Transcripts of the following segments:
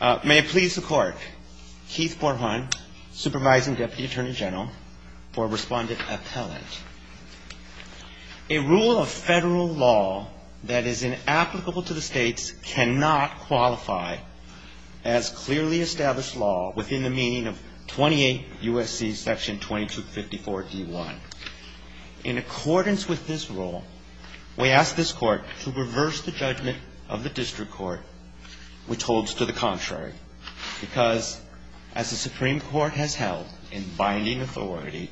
May it please the Court, Keith Borhon, Supervising Deputy Attorney General, for Respondent Appellant. A rule of federal law that is inapplicable to the states cannot qualify as clearly established law within the meaning of 28 U.S.C. § 2254 D.I. In accordance with this rule, we ask this Court to reverse the judgment of the District Court, which holds to the contrary, because as the Supreme Court has held in binding authority,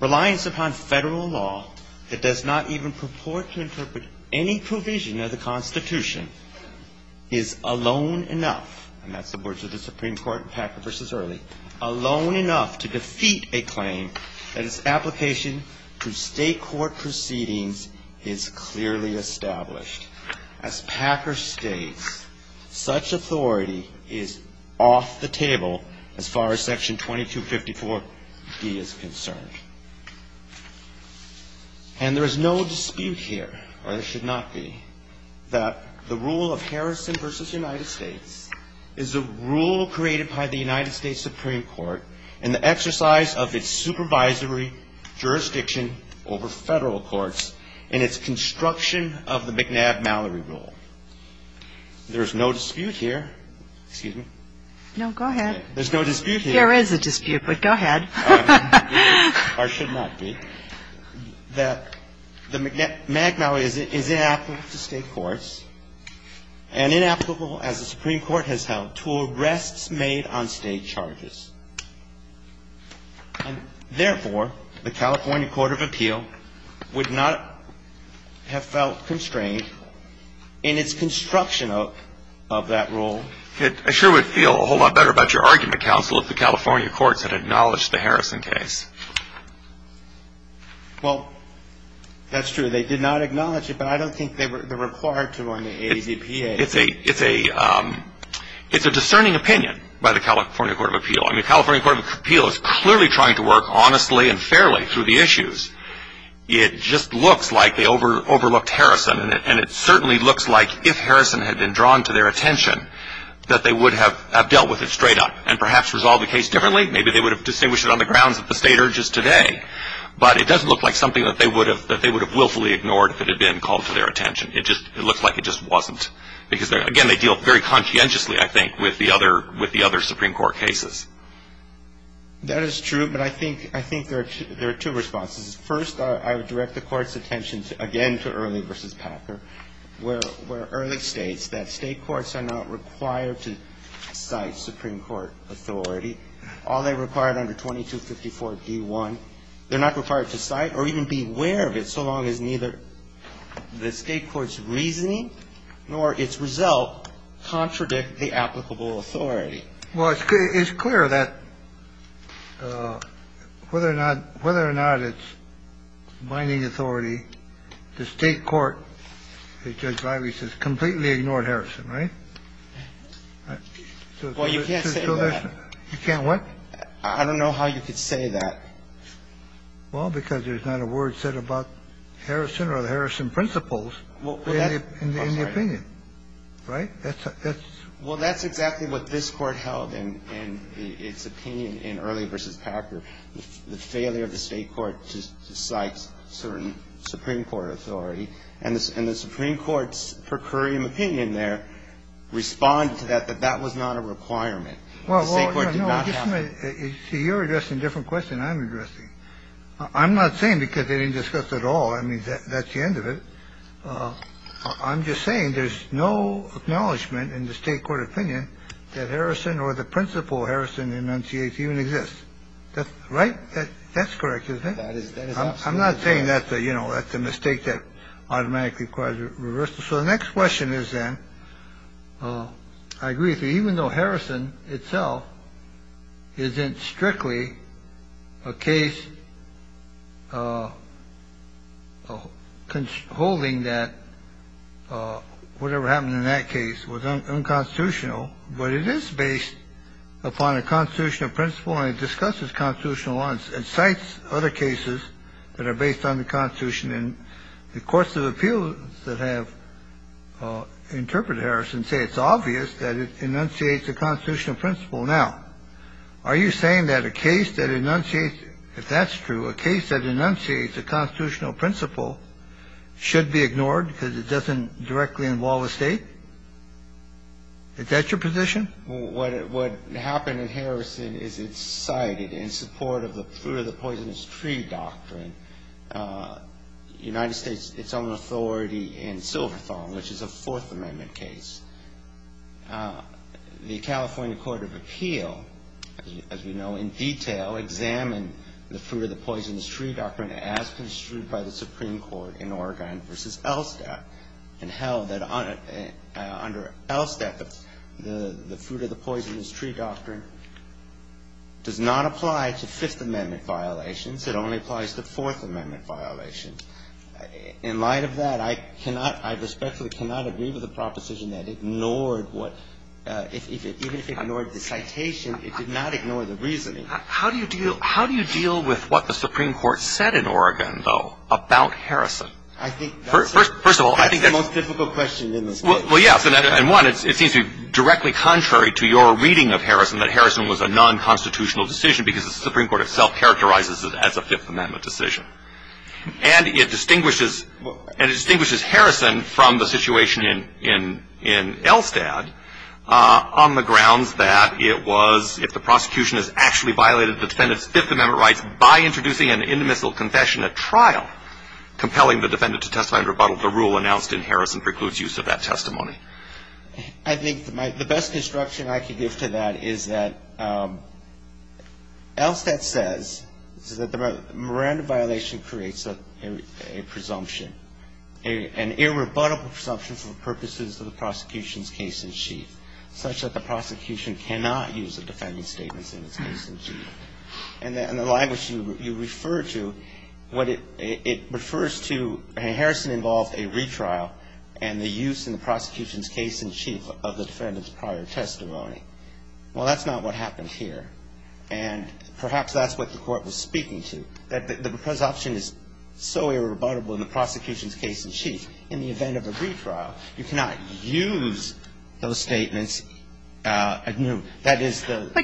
reliance upon federal law that does not even purport to interpret any provision of the Constitution is alone enough, and that's the words of the Supreme Court in Packer v. Early, alone enough to defeat a claim that its application to state court proceedings is clearly established. As Packer states, such authority is off the table as far as § 2254 D.I. is concerned. And there is no dispute here, or there should not be, that the rule of Harrison v. United States is a rule created by the United States Supreme Court in the exercise of its supervisory jurisdiction over federal courts in its construction of the McNab-Mallory rule. There is no dispute here. Excuse me. No, go ahead. There's no dispute here. There is a dispute, but go ahead. Or should not be. That the McNab-Mallory is inapplicable to state courts and inapplicable, as the Supreme Court has held, to arrests made on state charges. And therefore, the California Court of Appeal would not have felt constrained in its construction of that rule. I sure would feel a whole lot better about your argument, counsel, if the California courts had acknowledged the Harrison case. Well, that's true. They did not acknowledge it, but I don't think they were required to on the ADPA. The California Court of Appeal is clearly trying to work honestly and fairly through the issues. It just looks like they overlooked Harrison, and it certainly looks like if Harrison had been drawn to their attention, that they would have dealt with it straight up and perhaps resolved the case differently. Maybe they would have distinguished it on the grounds that the state urges today. But it doesn't look like something that they would have willfully ignored if it had been called to their attention. It looks like it just wasn't. Because, again, they deal very conscientiously, I think, with the other Supreme Court cases. That is true, but I think there are two responses. First, I would direct the Court's attention again to Early v. Packer, where Early states that state courts are not required to cite Supreme Court authority. All they required under 2254d.1, they're not required to cite or even be aware of it so long as neither the state court's or its result contradict the applicable authority. Well, it's clear that whether or not it's binding authority, the state court, as Judge Leiby says, completely ignored Harrison, right? Well, you can't say that. You can't what? I don't know how you could say that. Well, because there's not a word said about Harrison or the Harrison principles in the opinion. Right? Well, that's exactly what this Court held in its opinion in Early v. Packer. The failure of the state court to cite certain Supreme Court authority. And the Supreme Court's per curiam opinion there responded to that, that that was not a requirement. The state court did not have that. You're addressing a different question I'm addressing. I'm not saying because they didn't discuss it all. I mean, that's the end of it. I'm just saying there's no acknowledgment in the state court opinion that Harrison or the principal Harrison in MCH even exists. That's right. That's correct. That is. I'm not saying that, you know, that's a mistake that automatically requires a reversal. So the next question is that I agree with you, even though Harrison itself isn't strictly a case. Holding that whatever happened in that case was unconstitutional, but it is based upon a constitutional principle. And the Supreme Court, when it discusses constitutional law, it cites other cases that are based on the Constitution. And the courts of appeals that have interpreted Harrison say it's obvious that it enunciates a constitutional principle. Now, are you saying that a case that enunciates if that's true, a case that enunciates a constitutional principle should be ignored because it doesn't directly involve a state? Is that your position? What happened in Harrison is it's cited in support of the fruit of the poisonous tree doctrine. The United States, its own authority in Silverthorne, which is a Fourth Amendment case. The California Court of Appeal, as we know in detail, examined the fruit of the poisonous tree doctrine as construed by the Supreme Court in Oregon versus Elstad. And held that under Elstad, the fruit of the poisonous tree doctrine does not apply to Fifth Amendment violations. It only applies to Fourth Amendment violations. In light of that, I cannot, I respectfully cannot agree with the proposition that ignored what, even if it ignored the citation, it did not ignore the reasoning. How do you deal with what the Supreme Court said in Oregon, though, about Harrison? First of all, I think that's the most difficult question in this case. Well, yes. And one, it seems to be directly contrary to your reading of Harrison, that Harrison was a nonconstitutional decision because the Supreme Court itself characterizes it as a Fifth Amendment decision. And it distinguishes Harrison from the situation in Elstad on the grounds that it was, if the prosecution has actually violated the defendant's Fifth Amendment rights by introducing an intermittent confession at trial, compelling the defendant to testify in rebuttal to the rule announced in Harrison precludes use of that testimony. I think the best instruction I could give to that is that Elstad says that the Miranda violation creates a presumption, an irrebuttable presumption for the purposes of the prosecution's case-in-chief, such that the prosecution cannot use the defendant's statements in its case-in-chief. And the language you refer to, it refers to Harrison involved a retrial and the use in the prosecution's case-in-chief of the defendant's prior testimony. Well, that's not what happened here. And perhaps that's what the Court was speaking to, that the presumption is so irrebuttable in the prosecution's case-in-chief, in the event of a retrial, you cannot use those statements. But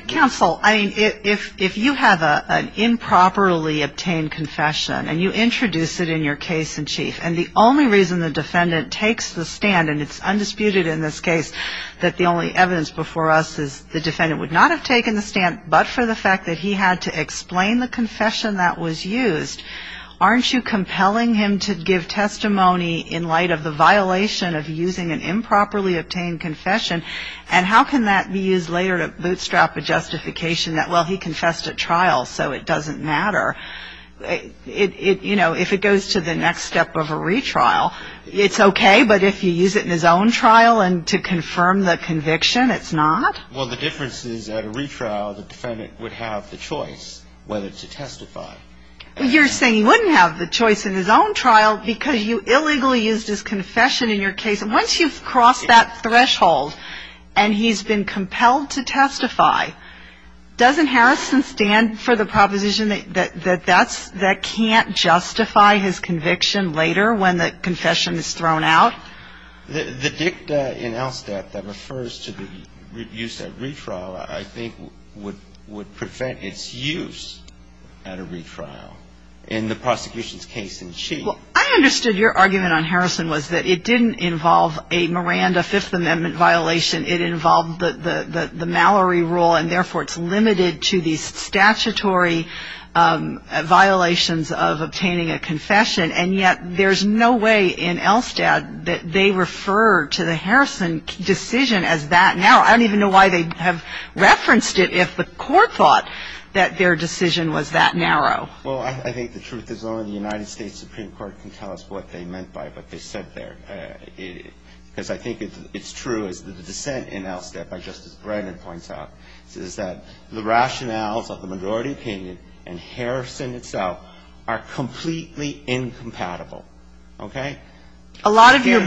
counsel, I mean, if you have an improperly obtained confession and you introduce it in your case-in-chief, and the only reason the defendant takes the stand, and it's undisputed in this case that the only evidence before us is the defendant would not have taken the stand but for the fact that he had to explain the confession that was used, aren't you compelling him to give testimony in light of the violation of using an improperly obtained confession and how can that be used later to bootstrap a justification that, well, he confessed at trial, so it doesn't matter? You know, if it goes to the next step of a retrial, it's okay, but if you use it in his own trial to confirm the conviction, it's not? Well, the difference is, at a retrial, the defendant would have the choice whether to testify. You're saying he wouldn't have the choice in his own trial because you illegally used his confession in your case. Once you've crossed that threshold and he's been compelled to testify, doesn't Harrison stand for the proposition that that can't justify his conviction later when the confession is thrown out? The dicta in LSTAT that refers to the use at retrial, I think, would prevent its use at a retrial in the prosecution's case-in-chief. Well, I understood your argument on Harrison was that it didn't involve a Miranda Fifth Amendment violation. It involved the Mallory rule, and therefore it's limited to these statutory violations of obtaining a confession, and yet there's no way in LSTAT that they refer to the Harrison decision as that narrow. I don't even know why they have referenced it if the court thought that their decision was that narrow. Well, I think the truth is only the United States Supreme Court can tell us what they meant by what they said there. Because I think it's true, as the dissent in LSTAT by Justice Brennan points out, is that the rationales of the majority opinion and Harrison itself are completely incompatible. Okay? A lot of your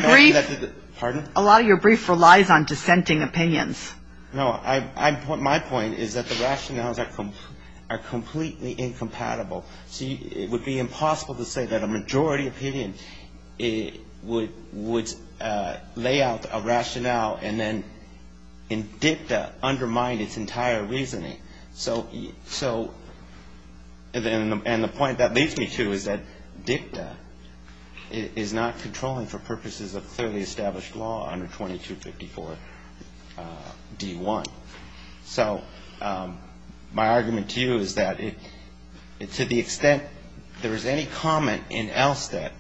brief relies on dissenting opinions. No. My point is that the rationales are completely incompatible. See, it would be impossible to say that a majority opinion would lay out a rationale and then in dicta undermine its entire reasoning. And the point that leads me to is that dicta is not controlling for purposes of clearly established law under 2254 D-1. So my argument to you is that to the extent there is any comment in LSTAT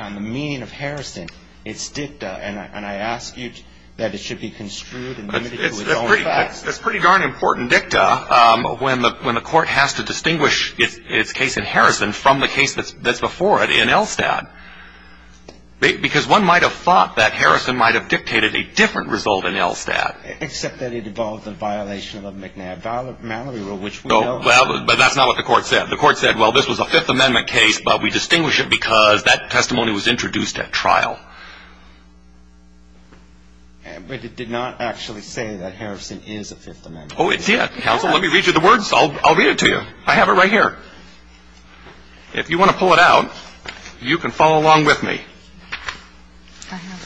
on the meaning of Harrison, it's dicta, and I ask you that it should be construed and limited to its own facts. It's pretty darn important, dicta, when the Court has to distinguish its case in Harrison from the case that's before it in LSTAT. Because one might have thought that Harrison might have dictated a different result in LSTAT. Except that it involved a violation of McNabb-Mallory rule, which we know. Well, but that's not what the Court said. The Court said, well, this was a Fifth Amendment case, but we distinguish it because that testimony was introduced at trial. But it did not actually say that Harrison is a Fifth Amendment case. Oh, it did. Counsel, let me read you the words. I'll read it to you. I have it right here. If you want to pull it out, you can follow along with me.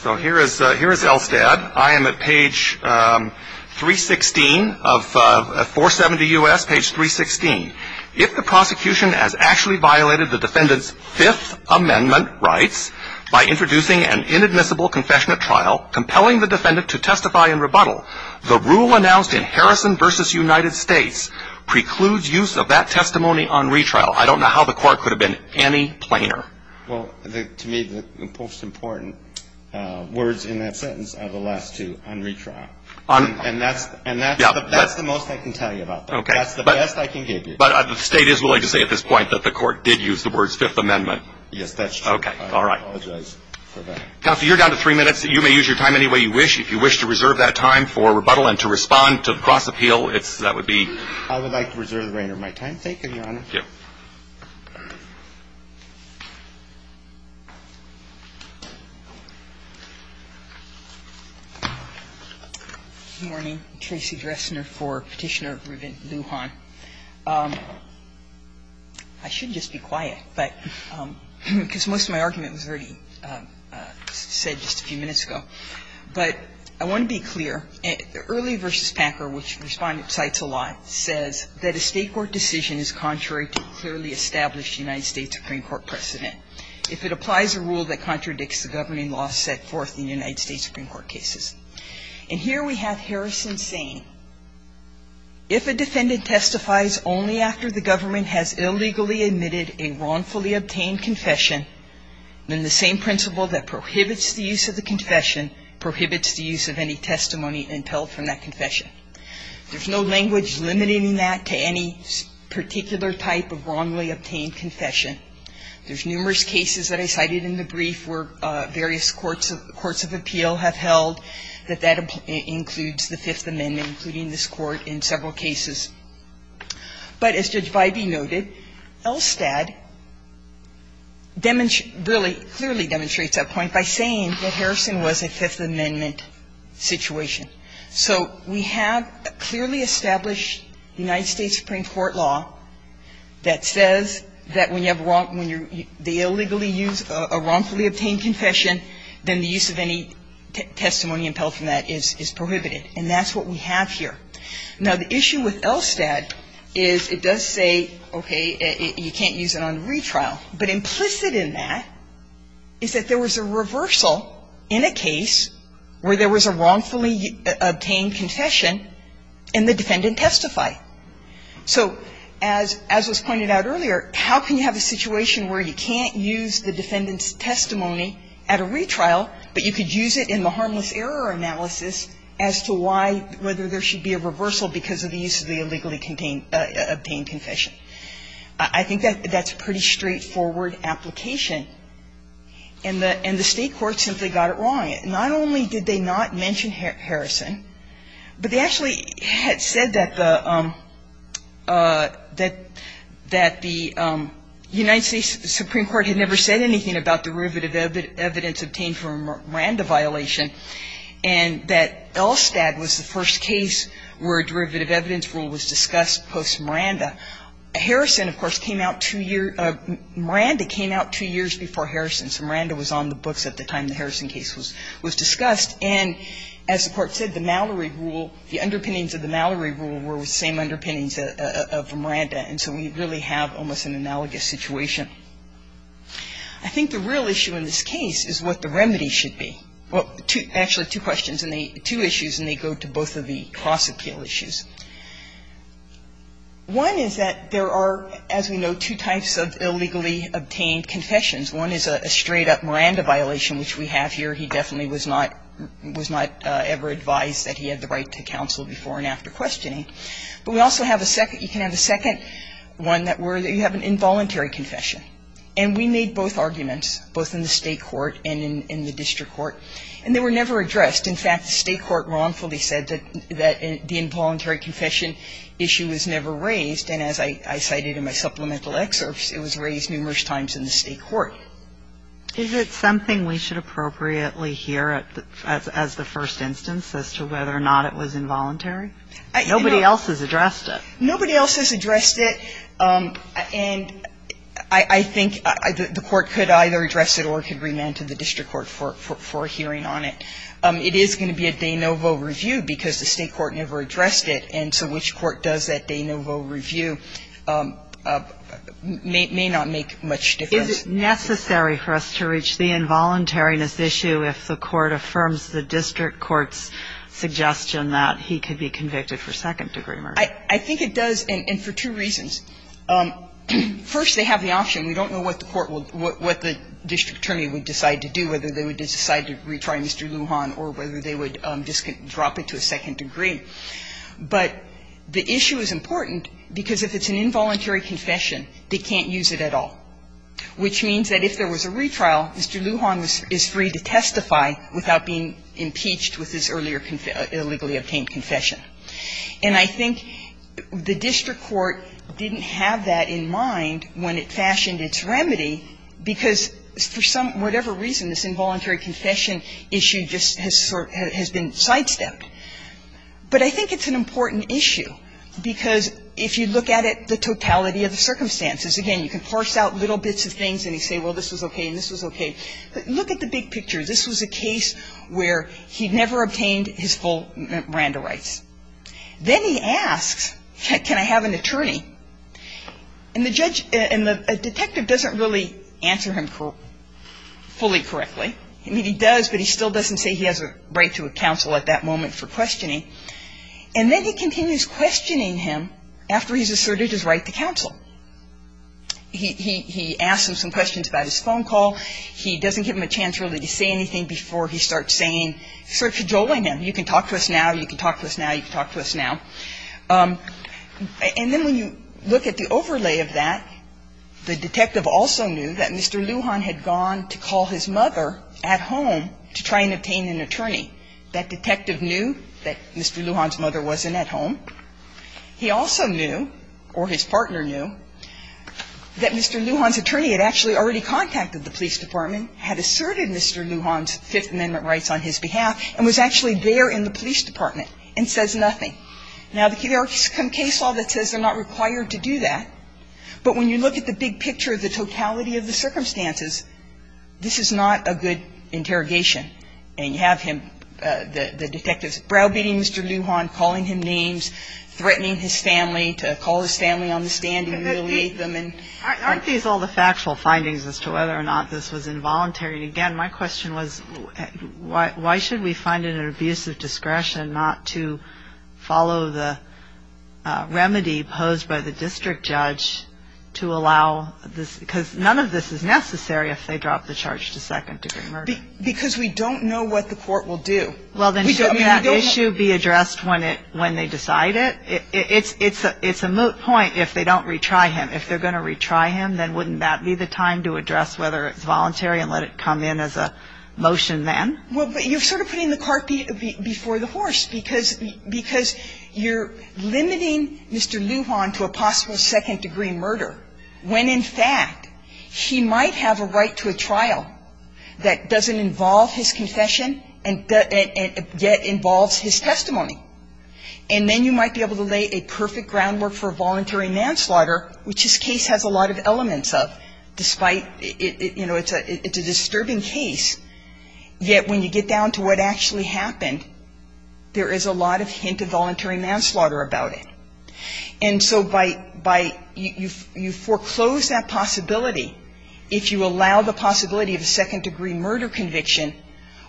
So here is LSTAT. I am at page 316 of 470 U.S., page 316. If the prosecution has actually violated the defendant's Fifth Amendment rights by introducing an inadmissible confession at trial compelling the defendant to testify in rebuttal, the rule announced in Harrison v. United States precludes use of that testimony on retrial. I don't know how the Court could have been any plainer. Well, to me, the most important words in that sentence are the last two, on retrial. And that's the most I can tell you about that. Okay. That's the best I can give you. But the State is willing to say at this point that the Court did use the words Fifth Amendment. Yes, that's true. Okay. All right. I apologize for that. Counsel, you're down to three minutes. You may use your time any way you wish. If you wish to reserve that time for rebuttal and to respond to the cross-appeal, that would be. I would like to reserve the remainder of my time. Thank you, Your Honor. Thank you. Good morning. I'm Tracy Dressner for Petitioner Revent Lujan. I should just be quiet, but because most of my argument was already said just a few minutes ago. But I want to be clear. Early v. Packer, which Respondent cites a lot, says that a State court decision is contrary to clearly established United States Supreme Court precedent if it applies a rule that contradicts the governing law set forth in United States Supreme Court cases. And here we have Harrison saying, if a defendant testifies only after the government has illegally admitted a wrongfully obtained confession, then the same principle that prohibits the use of the confession prohibits the use of any testimony impelled from that confession. There's no language limiting that to any particular type of wrongly obtained confession. There's numerous cases that I cited in the brief where various courts of appeal have held that that includes the Fifth Amendment, including this Court in several cases. But as Judge Bybee noted, Elstad really clearly demonstrates that point by saying that Harrison was a Fifth Amendment situation. So we have a clearly established United States Supreme Court law that says that when you have wrong – when you're – they illegally use a wrongfully obtained confession, then the use of any testimony impelled from that is prohibited. And that's what we have here. Now, the issue with Elstad is it does say, okay, you can't use it on retrial. But implicit in that is that there was a reversal in a case where there was a wrongfully obtained confession, and the defendant testified. So as was pointed out earlier, how can you have a situation where you can't use the defendant's testimony at a retrial, but you could use it in the harmless error analysis as to why – whether there should be a reversal because of the use of the illegally obtained confession. I think that's a pretty straightforward application. And the State court simply got it wrong. Not only did they not mention Harrison, but they actually had said that the – that the United States Supreme Court had never said anything about derivative evidence obtained from a Miranda violation, and that Elstad was the first case where a derivative evidence rule was discussed post-Miranda. Harrison, of course, came out two years – Miranda came out two years before Harrison, so Miranda was on the books at the time the Harrison case was discussed. And as the Court said, the Mallory rule, the underpinnings of the Mallory rule were the same underpinnings of Miranda, and so we really have almost an analogous situation. I think the real issue in this case is what the remedy should be. Actually, two questions in the – two issues, and they go to both of the cross-appeal issues. One is that there are, as we know, two types of illegally obtained confessions. One is a straight-up Miranda violation, which we have here. He definitely was not – was not ever advised that he had the right to counsel before and after questioning. But we also have a second – you can have a second one that were – you have an involuntary confession. And we made both arguments, both in the state court and in the district court, and they were never addressed. In fact, the state court wrongfully said that the involuntary confession issue was never raised, and as I cited in my supplemental excerpts, it was raised numerous times in the state court. Is it something we should appropriately hear as the first instance as to whether or not it was involuntary? Nobody else has addressed it. And I think the court could either address it or it could remand to the district court for a hearing on it. It is going to be a de novo review because the state court never addressed it, and so which court does that de novo review may not make much difference. Is it necessary for us to reach the involuntariness issue if the court affirms the district court's suggestion that he could be convicted for second-degree murder? I think it does, and for two reasons. First, they have the option. We don't know what the court will do, what the district attorney would decide to do, whether they would decide to retry Mr. Lujan or whether they would drop it to a second degree. But the issue is important because if it's an involuntary confession, they can't use it at all, which means that if there was a retrial, Mr. Lujan is free to testify without being impeached with his earlier illegally obtained confession. And I think the district court didn't have that in mind when it fashioned its remedy because for some, whatever reason, this involuntary confession issue just has been sidestepped. But I think it's an important issue because if you look at it, the totality of the circumstances, again, you can force out little bits of things and you say, well, this was okay and this was okay. Look at the big picture. This was a case where he never obtained his full Miranda rights. Then he asks, can I have an attorney? And the judge and the detective doesn't really answer him fully correctly. I mean, he does, but he still doesn't say he has a right to a counsel at that moment for questioning. And then he continues questioning him after he's asserted his right to counsel. He asks him some questions about his phone call. He doesn't give him a chance really to say anything before he starts saying, starts jolling him. You can talk to us now. You can talk to us now. You can talk to us now. And then when you look at the overlay of that, the detective also knew that Mr. Lujan had gone to call his mother at home to try and obtain an attorney. That detective knew that Mr. Lujan's mother wasn't at home. He also knew, or his partner knew, that Mr. Lujan's attorney had actually already contacted the police department, had asserted Mr. Lujan's Fifth Amendment rights on his behalf, and was actually there in the police department and says nothing. Now, there's a case law that says they're not required to do that. But when you look at the big picture of the totality of the circumstances, this is not a good interrogation. And you have him, the detective, browbeating Mr. Lujan, calling him names, threatening his family, to call his family on the stand and humiliate them. Aren't these all the factual findings as to whether or not this was involuntary? And, again, my question was, why should we find it an abusive discretion not to follow the remedy posed by the district judge to allow this? Because none of this is necessary if they drop the charge to second-degree murder. Because we don't know what the court will do. Well, then shouldn't that issue be addressed when they decide it? It's a moot point if they don't retry him. If they're going to retry him, then wouldn't that be the time to address whether it's voluntary and let it come in as a motion then? Well, but you're sort of putting the carpet before the horse, because you're limiting Mr. Lujan to a possible second-degree murder when, in fact, he might have a right to a trial that doesn't involve his confession and yet involves his testimony. And then you might be able to lay a perfect groundwork for voluntary manslaughter, which this case has a lot of elements of, despite, you know, it's a disturbing case, yet when you get down to what actually happened, there is a lot of hint of voluntary manslaughter about it. And so by you foreclose that possibility, if you allow the possibility of a second-degree murder conviction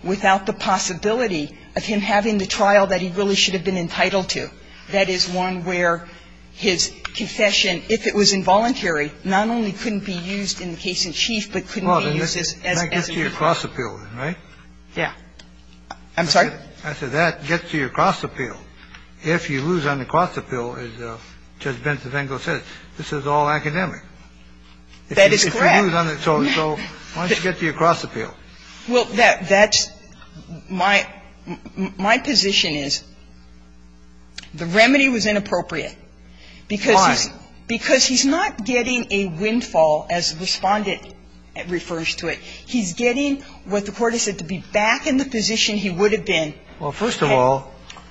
without the possibility of him having the trial that he really should have been entitled to, that is one where his confession, if it was involuntary, not only couldn't be used in the case in chief, but couldn't be used as a defense. Well, then that gets to your cross-appeal, right? Yeah. I'm sorry? I said that gets to your cross-appeal. If you lose on the cross-appeal, as Judge Bentevengo said, this is all academic. That is correct. So why don't you get to your cross-appeal? Well, that's my position is the remedy was inappropriate because he's not getting a windfall, as Respondent refers to it. He's getting what the Court has said, to be back in the position he would have been. He's getting an advantage. All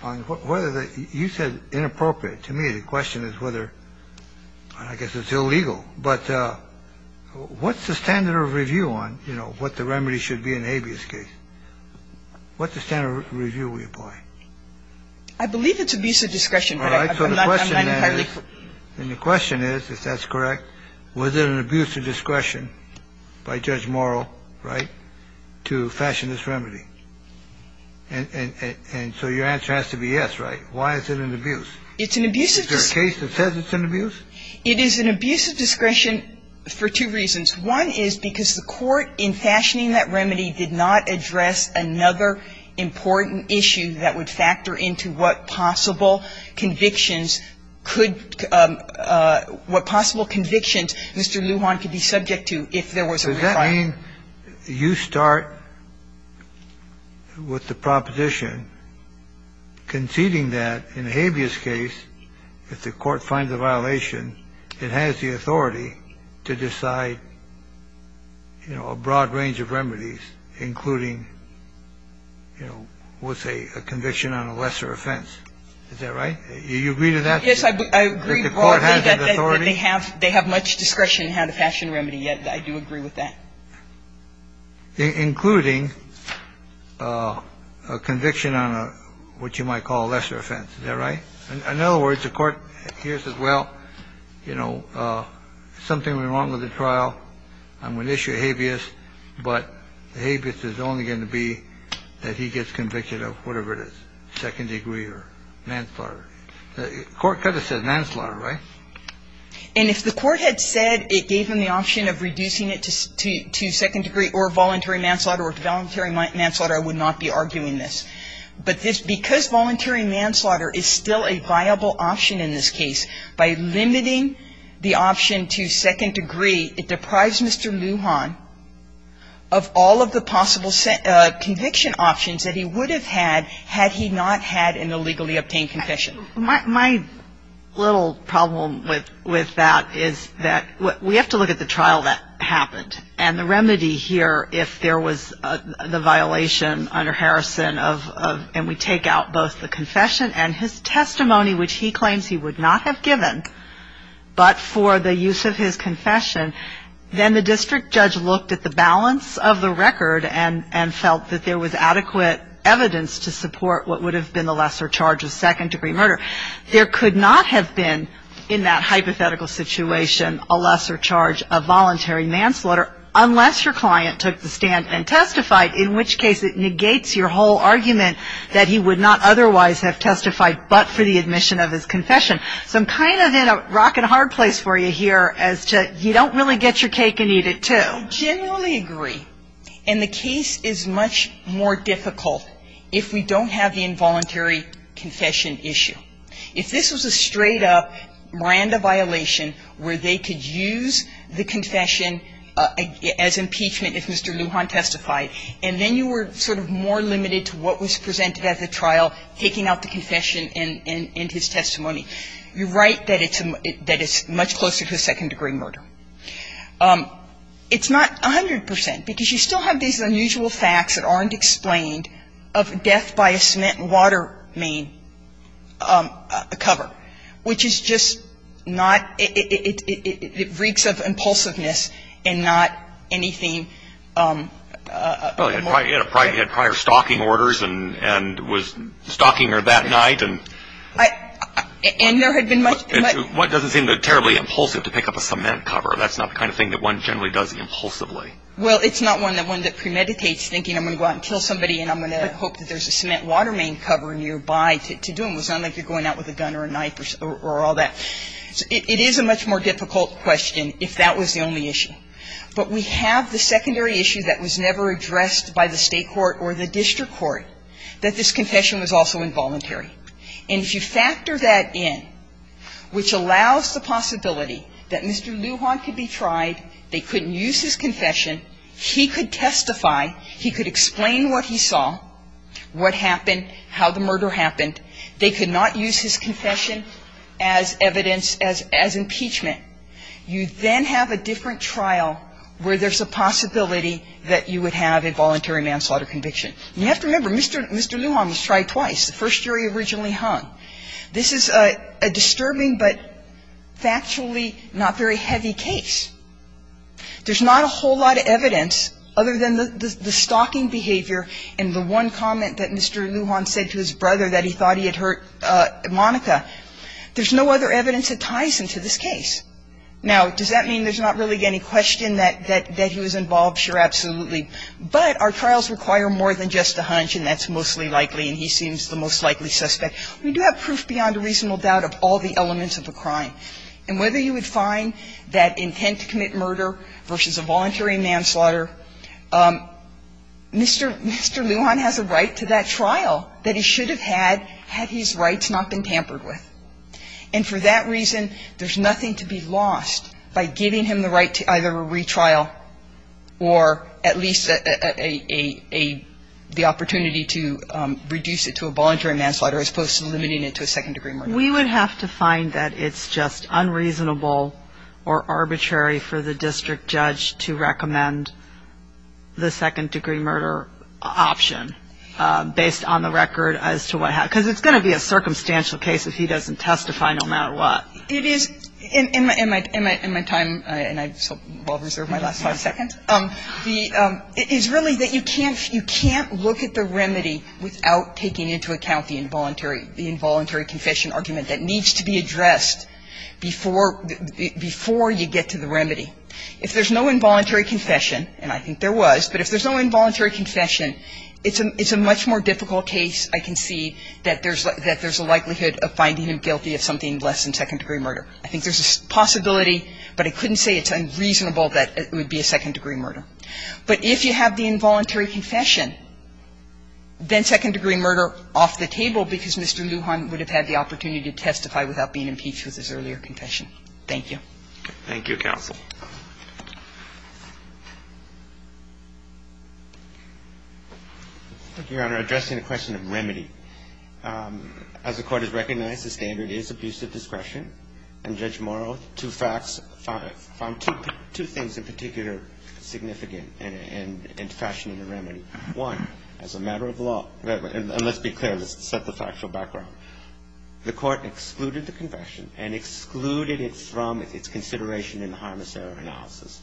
right. Well, first of all, whether you said inappropriate. To me, the question is whether I guess it's illegal, but what's the standard of review on, you know, what the remedy should be in a habeas case? I believe it's abuse of discretion. All right. So the question is, and the question is, if that's correct, was it an abuse of discretion by Judge Morrow, right, to fashion this remedy? And so your answer has to be yes, right? Why is it an abuse? It's an abuse of discretion. Is there a case that says it's an abuse? It is an abuse of discretion for two reasons. One is because the Court, in fashioning that remedy, did not address another important issue that would factor into what possible convictions could – what possible convictions Mr. Lujan could be subject to if there was a requirement. Does that mean you start with the proposition conceding that in a habeas case, if the Court finds a violation, it has the authority to decide, you know, a broad range of remedies, including, you know, we'll say a conviction on a lesser offense. Is that right? Do you agree to that? Yes, I agree broadly that they have much discretion how to fashion a remedy. I do agree with that. Including a conviction on what you might call a lesser offense. Is that right? In other words, the Court hears, well, you know, something went wrong with the trial, I'm going to issue a habeas, but the habeas is only going to be that he gets convicted of whatever it is, second degree or manslaughter. The Court could have said manslaughter, right? And if the Court had said it gave him the option of reducing it to second degree or voluntary manslaughter or voluntary manslaughter, I would not be arguing this. But this – because voluntary manslaughter is still a viable option in this case, by limiting the option to second degree, it deprives Mr. Lujan of all of the possible conviction options that he would have had had he not had an illegally obtained confession. My little problem with that is that we have to look at the trial that happened and the remedy here if there was the violation under Harrison of – and we take out both the confession and his testimony, which he claims he would not have given, but for the use of his confession, then the district judge looked at the balance of the record and felt that there was adequate evidence to support what would have been the lesser charge of second degree murder. There could not have been, in that hypothetical situation, a lesser charge of voluntary manslaughter unless your client took the stand and testified, in which case it negates your whole argument that he would not otherwise have testified but for the admission of his confession. So I'm kind of in a rock-and-hard place for you here as to you don't really get your cake and eat it, too. I genuinely agree. And the case is much more difficult if we don't have the involuntary confession issue. If this was a straight-up Miranda violation where they could use the confession as impeachment if Mr. Lujan testified, and then you were sort of more limited to what was presented at the trial, taking out the confession and his testimony, you're right that it's much closer to second degree murder. It's not 100 percent because you still have these unusual facts that aren't explained of death by a cement and water main cover, which is just not – it reeks of impulsiveness and not anything – Well, you had prior stalking orders and was stalking her that night. And there had been much – It doesn't seem terribly impulsive to pick up a cement cover. That's not the kind of thing that one generally does impulsively. Well, it's not one that premeditates thinking I'm going to go out and kill somebody and I'm going to hope that there's a cement and water main cover nearby to do them. It's not like you're going out with a gun or a knife or all that. It is a much more difficult question if that was the only issue. But we have the secondary issue that was never addressed by the State court or the district court, that this confession was also involuntary. And if you factor that in, which allows the possibility that Mr. Lujan could be tried, they couldn't use his confession, he could testify, he could explain what he saw, what happened, how the murder happened, they could not use his confession as evidence, as impeachment. You then have a different trial where there's a possibility that you would have a voluntary manslaughter conviction. You have to remember, Mr. Lujan was tried twice, the first year he originally hung. This is a disturbing but factually not very heavy case. There's not a whole lot of evidence other than the stalking behavior and the one comment that Mr. Lujan said to his brother that he thought he had hurt Monica. There's no other evidence that ties him to this case. Now, does that mean there's not really any question that he was involved? Sure, absolutely. But our trials require more than just a hunch, and that's mostly likely, and he seems the most likely suspect. We do have proof beyond a reasonable doubt of all the elements of the crime. And whether you would find that intent to commit murder versus a voluntary manslaughter, Mr. Lujan has a right to that trial that he should have had had his rights not been tampered with. And for that reason, there's nothing to be lost by giving him the right to either a retrial or at least the opportunity to reduce it to a voluntary manslaughter as opposed to limiting it to a second-degree murder. We would have to find that it's just unreasonable or arbitrary for the district judge to recommend the second-degree murder option based on the record as to what happened. Because it's going to be a circumstantial case if he doesn't testify no matter what. It is. In my time, and I will reserve my last five seconds, is really that you can't look at the remedy without taking into account the involuntary confession argument that needs to be addressed before you get to the remedy. If there's no involuntary confession, and I think there was, but if there's no involuntary confession, then there's a possibility that there's a likelihood of finding him guilty of something less than second-degree murder. I think there's a possibility, but I couldn't say it's unreasonable that it would be a second-degree murder. But if you have the involuntary confession, then second-degree murder off the table because Mr. Lujan would have had the opportunity to testify without being impeached with his earlier confession. Thank you. Thank you, counsel. Thank you, Your Honor. Addressing the question of remedy, as the Court has recognized, the standard is abuse of discretion. And Judge Morrow, two facts, found two things in particular significant in fashioning a remedy. One, as a matter of law, and let's be clear. Let's set the factual background. The Court excluded the confession and excluded it from its consideration in the harmless error analysis.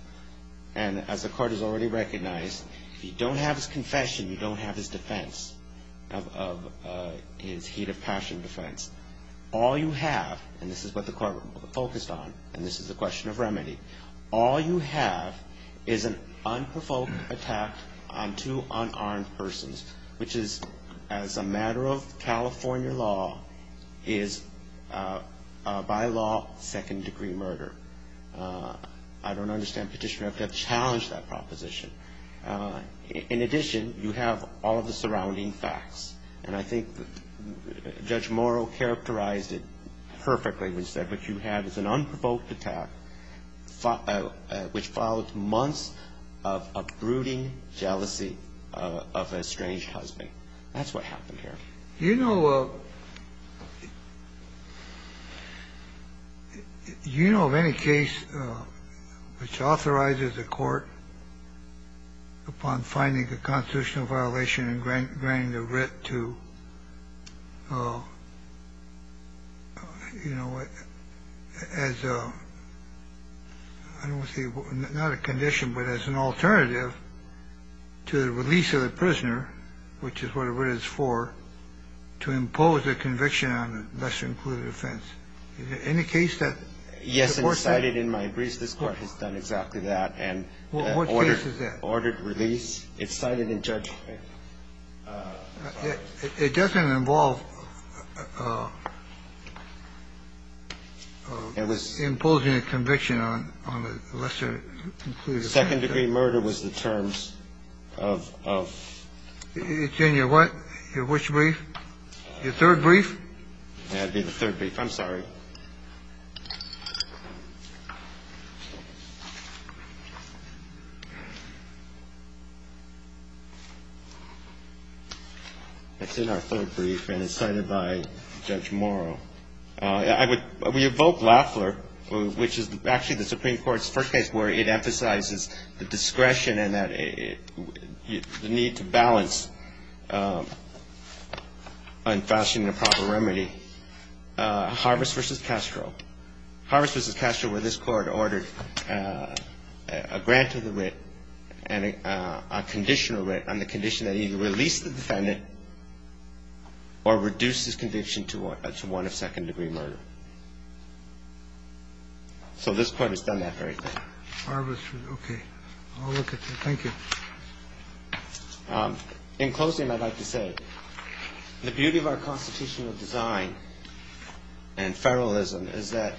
And as the Court has already recognized, if you don't have his confession, you don't have his defense, his heat of passion defense. All you have, and this is what the Court focused on, and this is a question of remedy, all you have is an unprovoked attack on two unarmed persons, which is, as a matter of California law, is, by law, second-degree murder. I don't understand Petitioner. You have to challenge that proposition. In addition, you have all of the surrounding facts. And I think Judge Morrow characterized it perfectly. He said what you have is an unprovoked attack which followed months of brooding jealousy of a estranged husband. That's what happened here. Do you know of any case which authorizes a court, upon finding a constitutional violation and granting a writ to, you know, as a, I don't want to say, not a condition, but as an alternative to the release of the prisoner, which is what a writ is for, to impose a conviction on a lesser-included offense? Is there any case that supports that? Yes. It's cited in my briefs. This Court has done exactly that. What case is that? Ordered release. It's cited in Judge... It doesn't involve imposing a conviction on a lesser-included offense. The second-degree murder was the terms of... It's in your what? Your which brief? Your third brief? That would be the third brief. I'm sorry. It's in our third brief, and it's cited by Judge Morrow. I would... We evoke Lafleur, which is actually the Supreme Court's first case where it emphasizes the discretion and the need to balance unfashionable and improper remedy. Harvest v. Castro. Harvest v. Castro, where this Court ordered a grant of the writ and a conditional writ on the condition that either release the defendant or reduce his conviction to one of second-degree murder. So this Court has done that very thing. Harvest v. Okay. I'll look at that. Thank you. In closing, I'd like to say the beauty of our constitutional design and federalism is that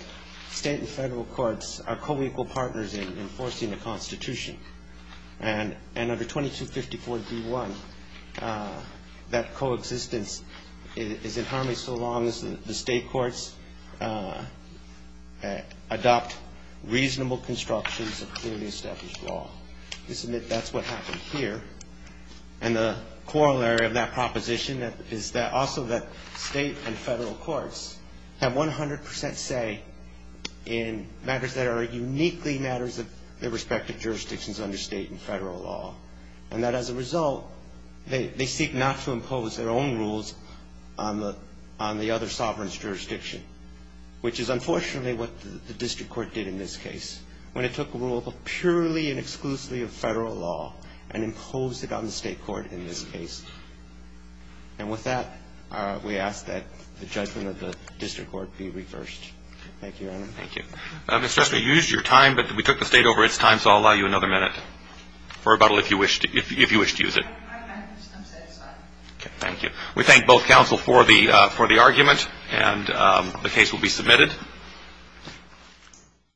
state and federal courts are co-equal partners in enforcing the Constitution. And under 2254d.1, that coexistence is in harmony so long as the state courts adopt reasonable constructions of clearly established law. That's what happened here. And the corollary of that proposition is that also that state and federal courts have 100 percent say in matters that are uniquely matters of their respective jurisdictions under state and federal law. And that as a result, they seek not to impose their own rules on the other sovereign's jurisdiction, which is unfortunately what the district court did in this case when it took a rule of purely and exclusively of federal law and imposed it on the state court in this case. And with that, we ask that the judgment of the district court be reversed. Thank you, Your Honor. Thank you. Mr. Ester, you used your time, but we took the state over its time, so I'll allow you another minute for rebuttal if you wish to use it. I'm satisfied. Okay. Thank you. We thank both counsel for the argument and the case will be submitted.